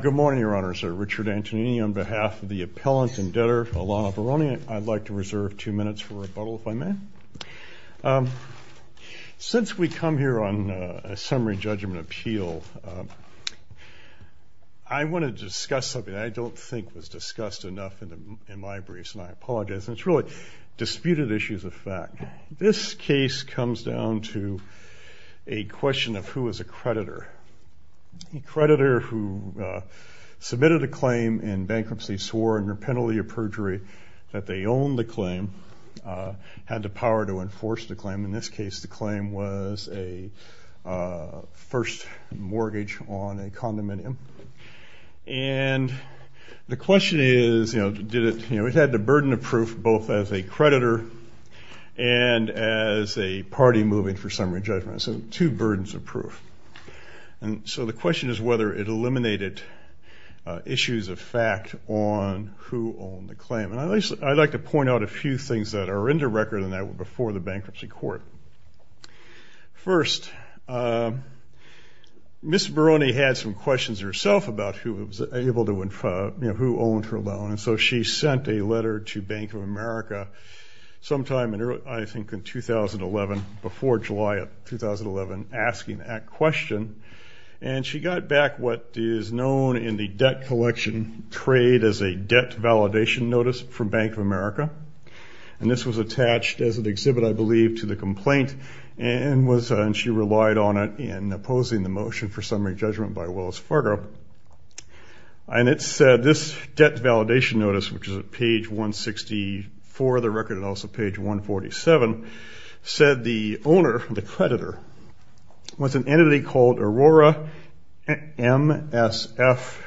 Good morning, Your Honors, Richard Antonini, on behalf of the appellant and debtor Alana Baroni, I'd like to reserve two minutes for rebuttal, if I may. Since we come here on a summary judgment appeal, I want to discuss something that I don't think was discussed enough in my briefs, and I apologize, and it's really disputed issues of fact. This case comes down to a question of who is a creditor. A creditor who submitted a claim in bankruptcy, swore under penalty of perjury that they owned the claim, had the power to enforce the claim. In this case, the claim was a first mortgage on a condominium. And the question is, you know, did it, you know, it had the burden of proof both as a creditor and as a party moving for summary judgment, so two burdens of proof. And so the question is whether it eliminated issues of fact on who owned the claim. And I'd like to point out a few things that are in the record and that were before the bankruptcy court. First, Ms. Barone had some questions herself about who was able to, you know, who owned her loan. And so she sent a letter to Bank of America sometime in early, I think in 2011, before July of 2011, asking that question, and she got back what is known in the debt collection trade as a debt validation notice from Bank of America. And this was attached as an exhibit, I believe, to the complaint and was, and she relied on it in opposing the motion for summary judgment by Willis Fargo. And it said, this debt validation notice, which is at page 164 of the record and also page 147, said the owner, the creditor, was an entity called Aurora MSF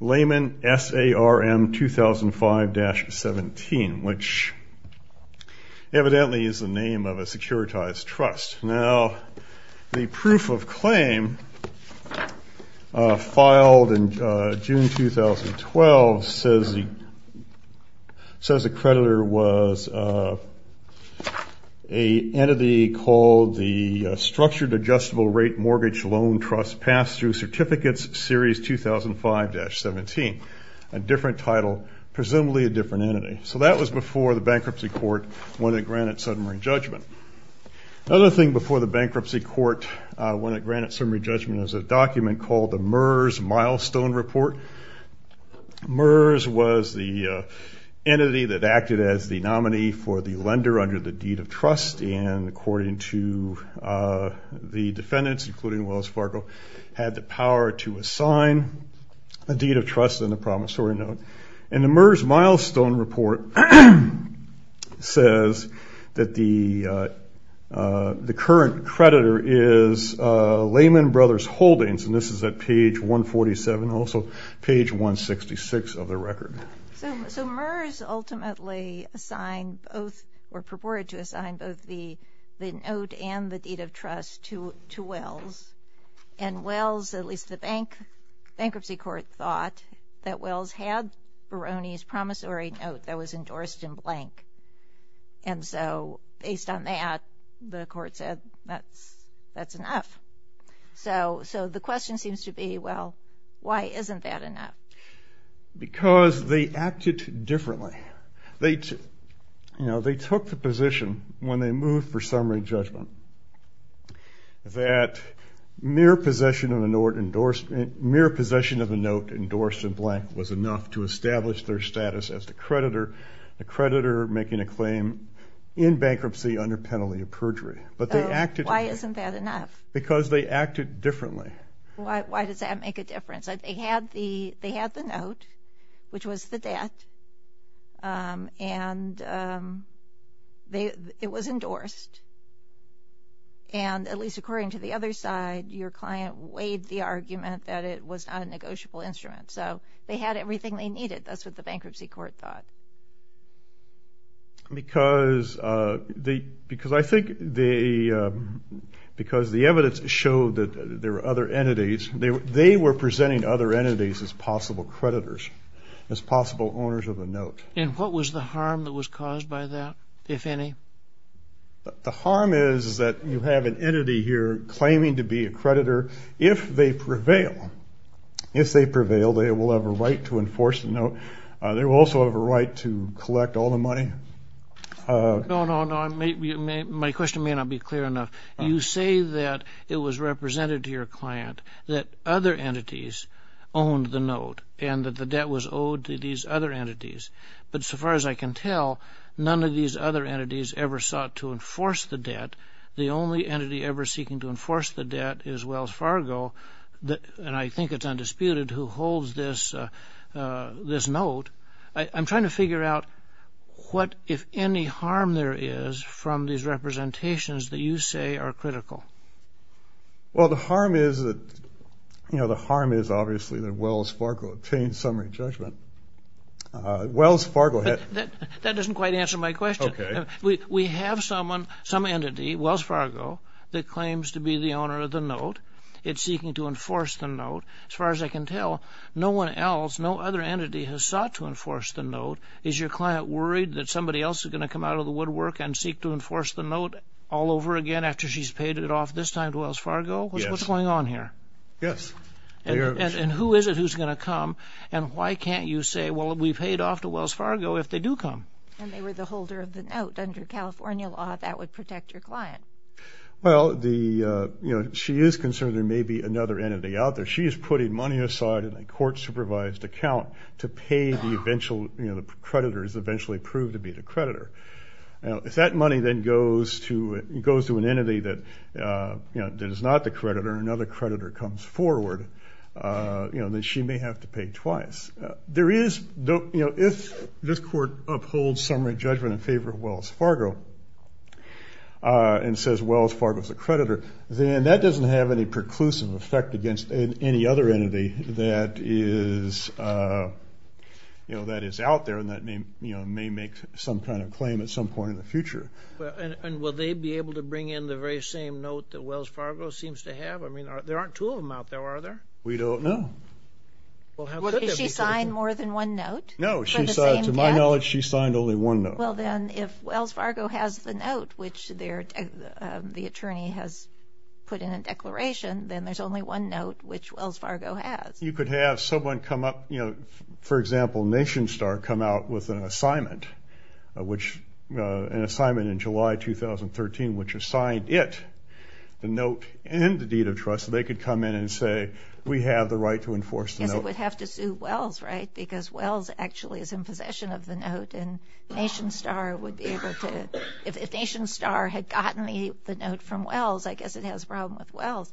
Lehman SARM 2005-17, which evidently is the name of a securitized trust. Now, the proof of claim filed in June 2012 says the creditor was an entity called the Structured Adjustable Rate Mortgage Loan Trust Pass-Through Certificates Series 2005-17, a different title, presumably a different entity. So that was before the bankruptcy court when it granted summary judgment. Another thing before the bankruptcy court when it granted summary judgment was a document called the MERS Milestone Report. MERS was the entity that acted as the nominee for the lender under the deed of trust, and according to the defendants, including Willis Fargo, had the power to assign a deed of trust on the promissory note. And the MERS Milestone Report says that the current creditor is Lehman Brothers Holdings, and this is at page 147, also page 166 of the record. So MERS ultimately assigned both, or purported to assign both the note and the deed of trust to Wells, and Wells, at least the bankruptcy court thought, that Wells had Barone's promissory note that was endorsed in blank, and so based on that, the court said that's enough. So the question seems to be, well, why isn't that enough? Because they acted differently. They took the position when they moved for summary judgment that mere possession of a note endorsed in blank was enough to establish their status as the creditor, the creditor making a claim in bankruptcy under penalty of perjury. But they acted- Why isn't that enough? Because they acted differently. Why does that make a difference? They had the note, which was the debt, and it was endorsed, and at least according to the other side, your client weighed the argument that it was not a negotiable instrument. So they had everything they needed. That's what the bankruptcy court thought. Because the evidence showed that there were other entities, they were presenting other entities as possible creditors, as possible owners of the note. And what was the harm that was caused by that, if any? The harm is that you have an entity here claiming to be a creditor. If they prevail, if they prevail, they will have a right to enforce the note. They will also have a right to collect all the money. No, no, no. My question may not be clear enough. You say that it was represented to your client that other entities owned the note and that the debt was owed to these other entities. But so far as I can tell, none of these other entities ever sought to enforce the debt. The only entity ever seeking to enforce the debt is Wells Fargo, and I think it's undisputed, who holds this note. I'm trying to figure out what, if any, harm there is from these representations that you say are critical. Well, the harm is that, you know, the harm is obviously that Wells Fargo obtained summary judgment. Wells Fargo had- That doesn't quite answer my question. Okay. We have someone, some entity, Wells Fargo, that claims to be the owner of the note. It's seeking to enforce the note. As far as I can tell, no one else, no other entity has sought to enforce the note. Is your client worried that somebody else is going to come out of the woodwork and seek to enforce the note all over again after she's paid it off this time to Wells Fargo? Yes. What's going on here? Yes. And who is it who's going to come, and why can't you say, well, we paid off to Wells Fargo if they do come? And they were the holder of the note under California law. That would protect your client. Well, the, you know, she is concerned there may be another entity out there. She is putting money aside in a court-supervised account to pay the eventual, you know, the creditors eventually prove to be the creditor. Now, if that money then goes to an entity that, you know, that is not the creditor, another creditor comes forward, you know, then she may have to pay twice. There is, you know, if this court upholds summary judgment in favor of Wells Fargo and says Wells Fargo is the creditor, then that doesn't have any preclusive effect against any other entity that is, you know, that is out there and that may make some kind of claim at some point in the future. And will they be able to bring in the very same note that Wells Fargo seems to have? I mean, there aren't two of them out there, are there? We don't know. Has she signed more than one note? No. To my knowledge, she signed only one note. Well, then, if Wells Fargo has the note which the attorney has put in a declaration, then there is only one note which Wells Fargo has. You could have someone come up, you know, for example, Nation Star come out with an assignment, which an assignment in July 2013 which assigned it the note and the deed of trust. They could come in and say, we have the right to enforce the note. Yes, it would have to sue Wells, right, because Wells actually is in possession of the note and Nation Star would be able to, if Nation Star had gotten the note from Wells, I guess it has a problem with Wells.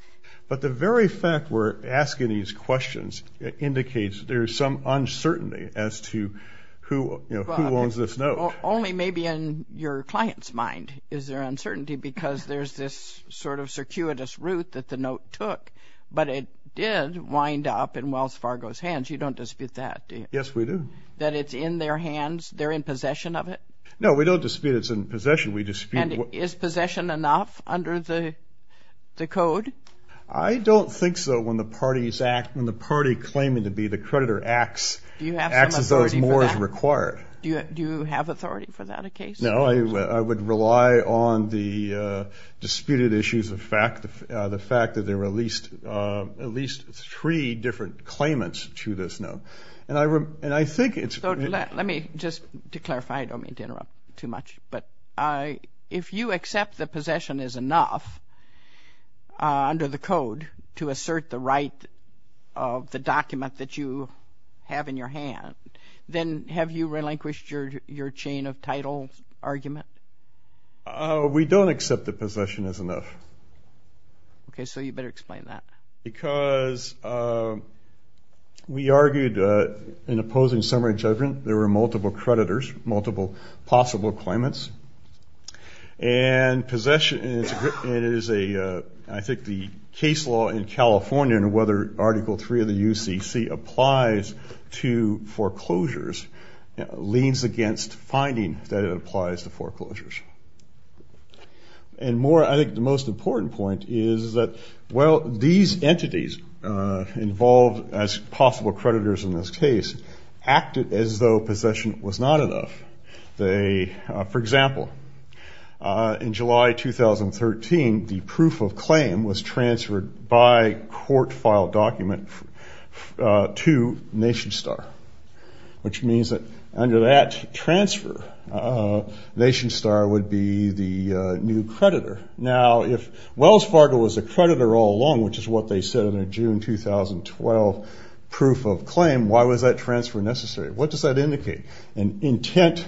But the very fact we're asking these questions indicates there is some uncertainty as to who, you know, who owns this note. Only maybe in your client's mind is there uncertainty because there's this sort of circuitous route that the note took, but it did wind up in Wells Fargo's hands. You don't dispute that, do you? Yes, we do. That it's in their hands, they're in possession of it? No, we don't dispute it's in possession. And is possession enough under the code? I don't think so when the party claiming to be the creditor acts as though more is required. Do you have authority for that in case? No, I would rely on the disputed issues, the fact that there were at least three different claimants to this note. And I think it's- Let me just, to clarify, I don't mean to interrupt too much, but if you accept that possession is enough under the code to assert the right of the document that you have in your hand, then have you relinquished your chain of title argument? We don't accept that possession is enough. Okay, so you better explain that. Because we argued in opposing summary judgment there were multiple creditors, multiple possible claimants, and possession is a, I think the case law in California and whether Article 3 of the UCC applies to foreclosures leans against finding that it applies to foreclosures. And more, I think the most important point is that, well, these entities involved as possible creditors in this case acted as though possession was not enough. For example, in July 2013, the proof of claim was transferred by court-filed document to NationStar, which means that under that transfer, NationStar would be the new creditor. Now, if Wells Fargo was a creditor all along, which is what they said in their June 2012 proof of claim, why was that transfer necessary? What does that indicate? An intent,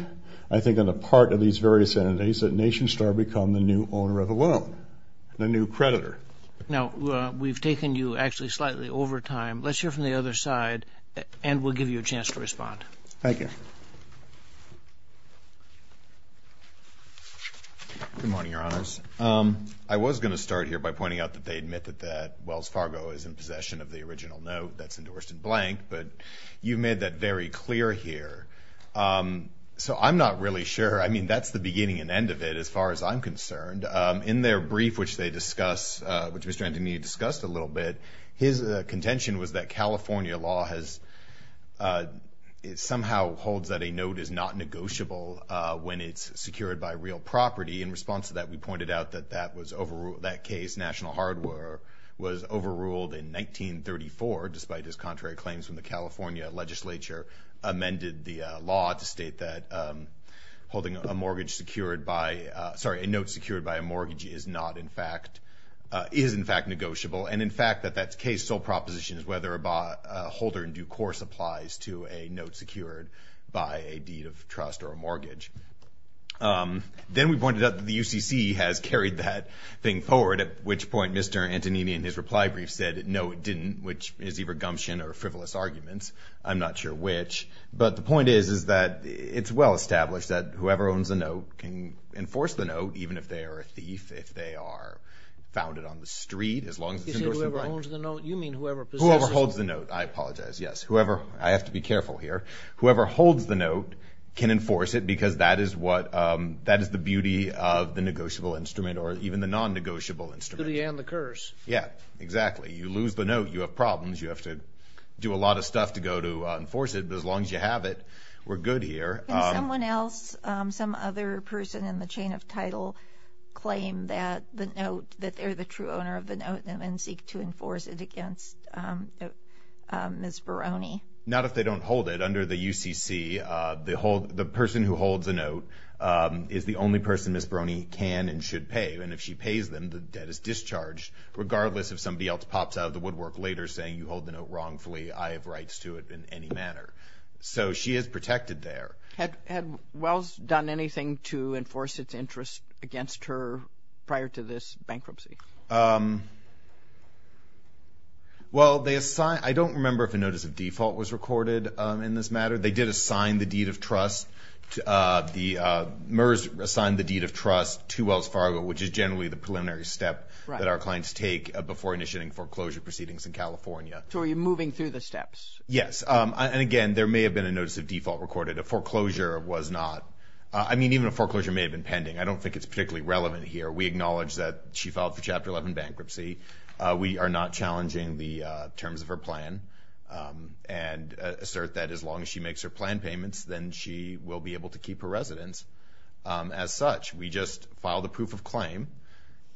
I think, on the part of these various entities that NationStar become the new owner of a loan, the new creditor. Now, we've taken you actually slightly over time. Let's hear from the other side, and we'll give you a chance to respond. Thank you. Good morning, Your Honors. I was going to start here by pointing out that they admit that Wells Fargo is in possession of the original note that's endorsed in blank, but you've made that very clear here. So I'm not really sure. I mean, that's the beginning and end of it as far as I'm concerned. In their brief, which they discuss, which Mr. Antonini discussed a little bit, his contention was that California law somehow holds that a note is not negotiable when it's secured by real property. In response to that, we pointed out that that case, National Hardware, was overruled in 1934, despite his contrary claims when the California legislature amended the law to state that holding a mortgage secured by – sorry, a note secured by a mortgage is not in fact – is in fact negotiable, and in fact that that case sole proposition is whether a holder in due course applies to a note secured by a deed of trust or a mortgage. Then we pointed out that the UCC has carried that thing forward, at which point Mr. Antonini in his reply brief said, no, it didn't, which is either gumption or frivolous arguments. I'm not sure which. But the point is is that it's well established that whoever owns a note can enforce the note, even if they are a thief, if they are founded on the street, as long as it's endorsed in blank. You said whoever owns the note? You mean whoever possesses it? Whoever holds the note. I apologize, yes. Whoever – I have to be careful here. Whoever holds the note can enforce it because that is what – that is the beauty of the negotiable instrument, or even the non-negotiable instrument. The beauty and the curse. Yeah, exactly. You lose the note, you have problems, you have to do a lot of stuff to go to enforce it, but as long as you have it, we're good here. Can someone else, some other person in the chain of title claim that the note, that they're the true owner of the note and then seek to enforce it against Ms. Veroni? Not if they don't hold it. Under the UCC, the person who holds the note is the only person Ms. Veroni can and should pay, and if she pays them, the debt is discharged, regardless if somebody else pops out of the woodwork later saying you hold the note wrongfully, I have rights to it in any manner. So she is protected there. Had Wells done anything to enforce its interest against her prior to this bankruptcy? Well, I don't remember if a notice of default was recorded in this matter. They did assign the deed of trust, MERS assigned the deed of trust to Wells Fargo, which is generally the preliminary step that our clients take before initiating foreclosure proceedings in California. So are you moving through the steps? Yes. And, again, there may have been a notice of default recorded. A foreclosure was not. I mean, even a foreclosure may have been pending. I don't think it's particularly relevant here. We acknowledge that she filed for Chapter 11 bankruptcy. We are not challenging the terms of her plan and assert that as long as she makes her plan payments, then she will be able to keep her residence as such. We just filed a proof of claim,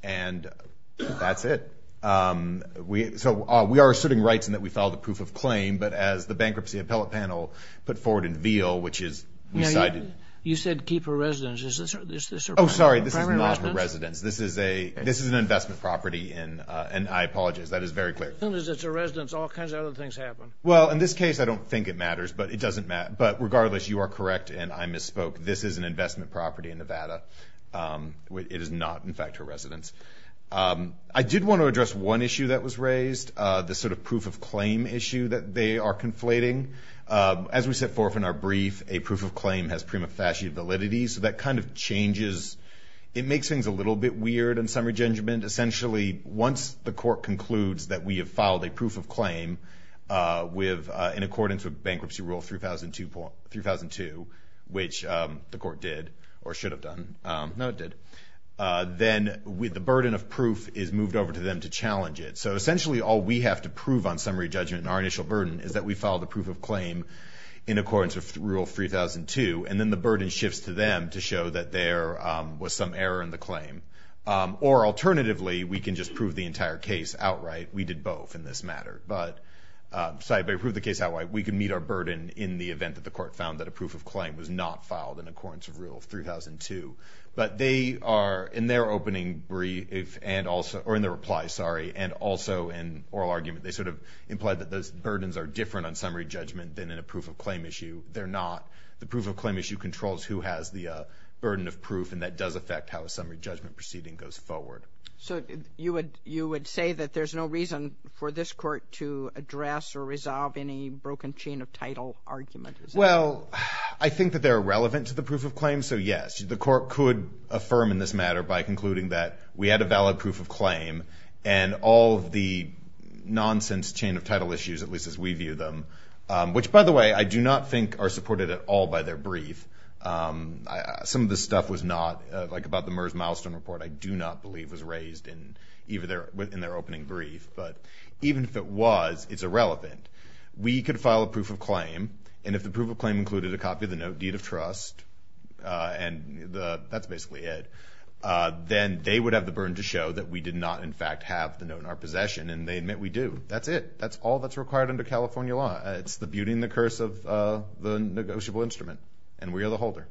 and that's it. So we are asserting rights in that we filed a proof of claim, but as the bankruptcy appellate panel put forward in Veal, which is decided to keep her residence. Is this her primary residence? This is an investment property, and I apologize. That is very clear. As long as it's a residence, all kinds of other things happen. Well, in this case, I don't think it matters, but it doesn't matter. But regardless, you are correct, and I misspoke. This is an investment property in Nevada. It is not, in fact, her residence. I did want to address one issue that was raised, the sort of proof of claim issue that they are conflating. As we set forth in our brief, a proof of claim has prima facie validity, so that kind of changes. It makes things a little bit weird in summary judgment. Essentially, once the court concludes that we have filed a proof of claim in accordance with bankruptcy rule 3002, which the court did or should have done. No, it did. Then the burden of proof is moved over to them to challenge it. So essentially all we have to prove on summary judgment in our initial burden is that we filed a proof of claim in accordance with rule 3002, and then the burden shifts to them to show that there was some error in the claim. Or alternatively, we can just prove the entire case outright. We did both in this matter. Sorry, but we proved the case outright. We can meet our burden in the event that the court found that a proof of claim was not filed in accordance with rule 3002. But they are, in their opening brief, or in their reply, sorry, and also in oral argument, they sort of implied that those burdens are different on summary judgment than in a proof of claim issue. They're not. The proof of claim issue controls who has the burden of proof, and that does affect how a summary judgment proceeding goes forward. So you would say that there's no reason for this court to address or resolve any broken chain of title argument? Well, I think that they're relevant to the proof of claim, so yes. The court could affirm in this matter by concluding that we had a valid proof of claim and all of the nonsense chain of title issues, at least as we view them, which, by the way, I do not think are supported at all by their brief. Some of this stuff was not, like about the MERS milestone report, I do not believe was raised in their opening brief. But even if it was, it's irrelevant. We could file a proof of claim, and if the proof of claim included a copy of the note, deed of trust, and that's basically it, then they would have the burden to show that we did not, in fact, have the note in our possession, and they admit we do. That's it. That's all that's required under California law. It's the beauty and the curse of the negotiable instrument, and we are the holder.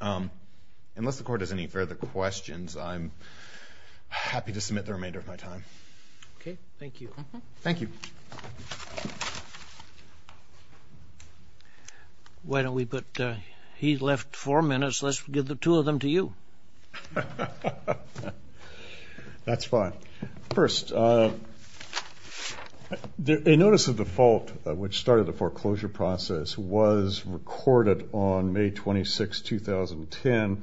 Unless the court has any further questions, I'm happy to submit the remainder of my time. Okay, thank you. Thank you. Why don't we put, he left four minutes. Let's give the two of them to you. That's fine. First, a notice of default, which started the foreclosure process, was recorded on May 26, 2010,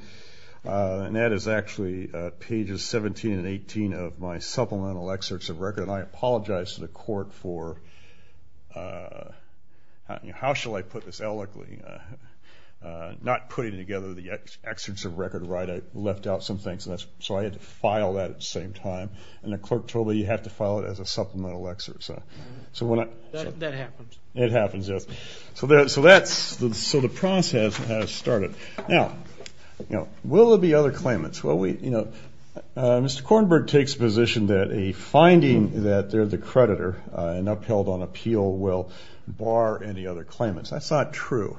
and that is actually pages 17 and 18 of my supplemental excerpts of record, and I apologize to the court for, how shall I put this eloquently, not putting together the excerpts of record right. I left out some things, so I had to file that at the same time, and the clerk told me you have to file it as a supplemental excerpt. That happens. It happens, yes. So the process has started. Now, will there be other claimants? Mr. Kornberg takes position that a finding that they're the creditor and upheld on appeal will bar any other claimants. That's not true.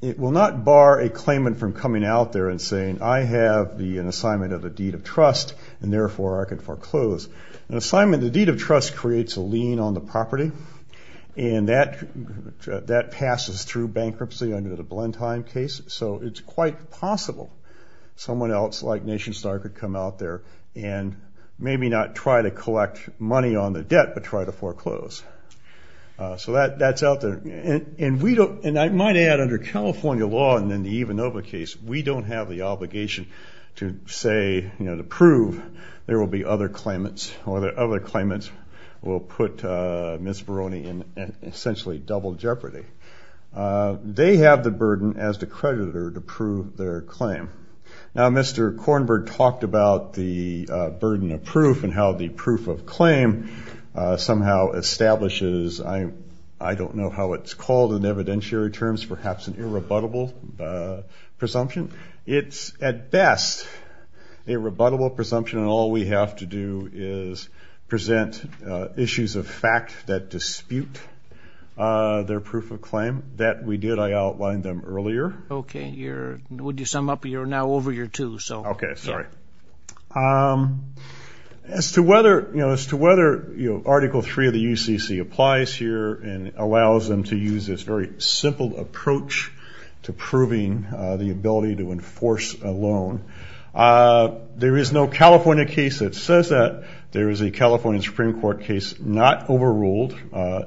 It will not bar a claimant from coming out there and saying, I have an assignment of the deed of trust, and therefore I can foreclose. An assignment of the deed of trust creates a lien on the property, and that passes through bankruptcy under the Blenheim case, so it's quite possible someone else, like NationStar, could come out there and maybe not try to collect money on the debt, but try to foreclose. So that's out there. And I might add, under California law and in the Ivanova case, we don't have the obligation to say, you know, to prove there will be other claimants or that other claimants will put Ms. Barone in essentially double jeopardy. They have the burden as the creditor to prove their claim. Now, Mr. Kornberg talked about the burden of proof and how the proof of claim somehow establishes, I don't know how it's called in evidentiary terms, perhaps an irrebuttable presumption. It's at best a rebuttable presumption, and all we have to do is present issues of fact that dispute their proof of claim. That we did. I outlined them earlier. Okay. Would you sum up? You're now over your two, so. Okay. Sorry. As to whether, you know, as to whether Article III of the UCC applies here and allows them to use this very simple approach to proving the ability to enforce a loan, there is no California case that says that. There is a California Supreme Court case not overruled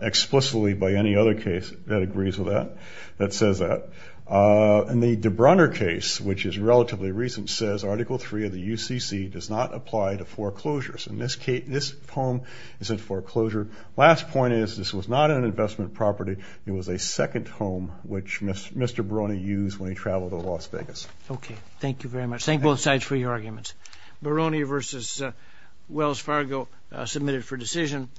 explicitly by any other case that agrees with that, that says that. And the DeBrunner case, which is relatively recent, says Article III of the UCC does not apply to foreclosures. In this case, this home is a foreclosure. Last point is this was not an investment property. It was a second home, which Mr. Barone used when he traveled to Las Vegas. Okay. Thank you very much. Thank both sides for your arguments. Barone versus Wells Fargo submitted for decision.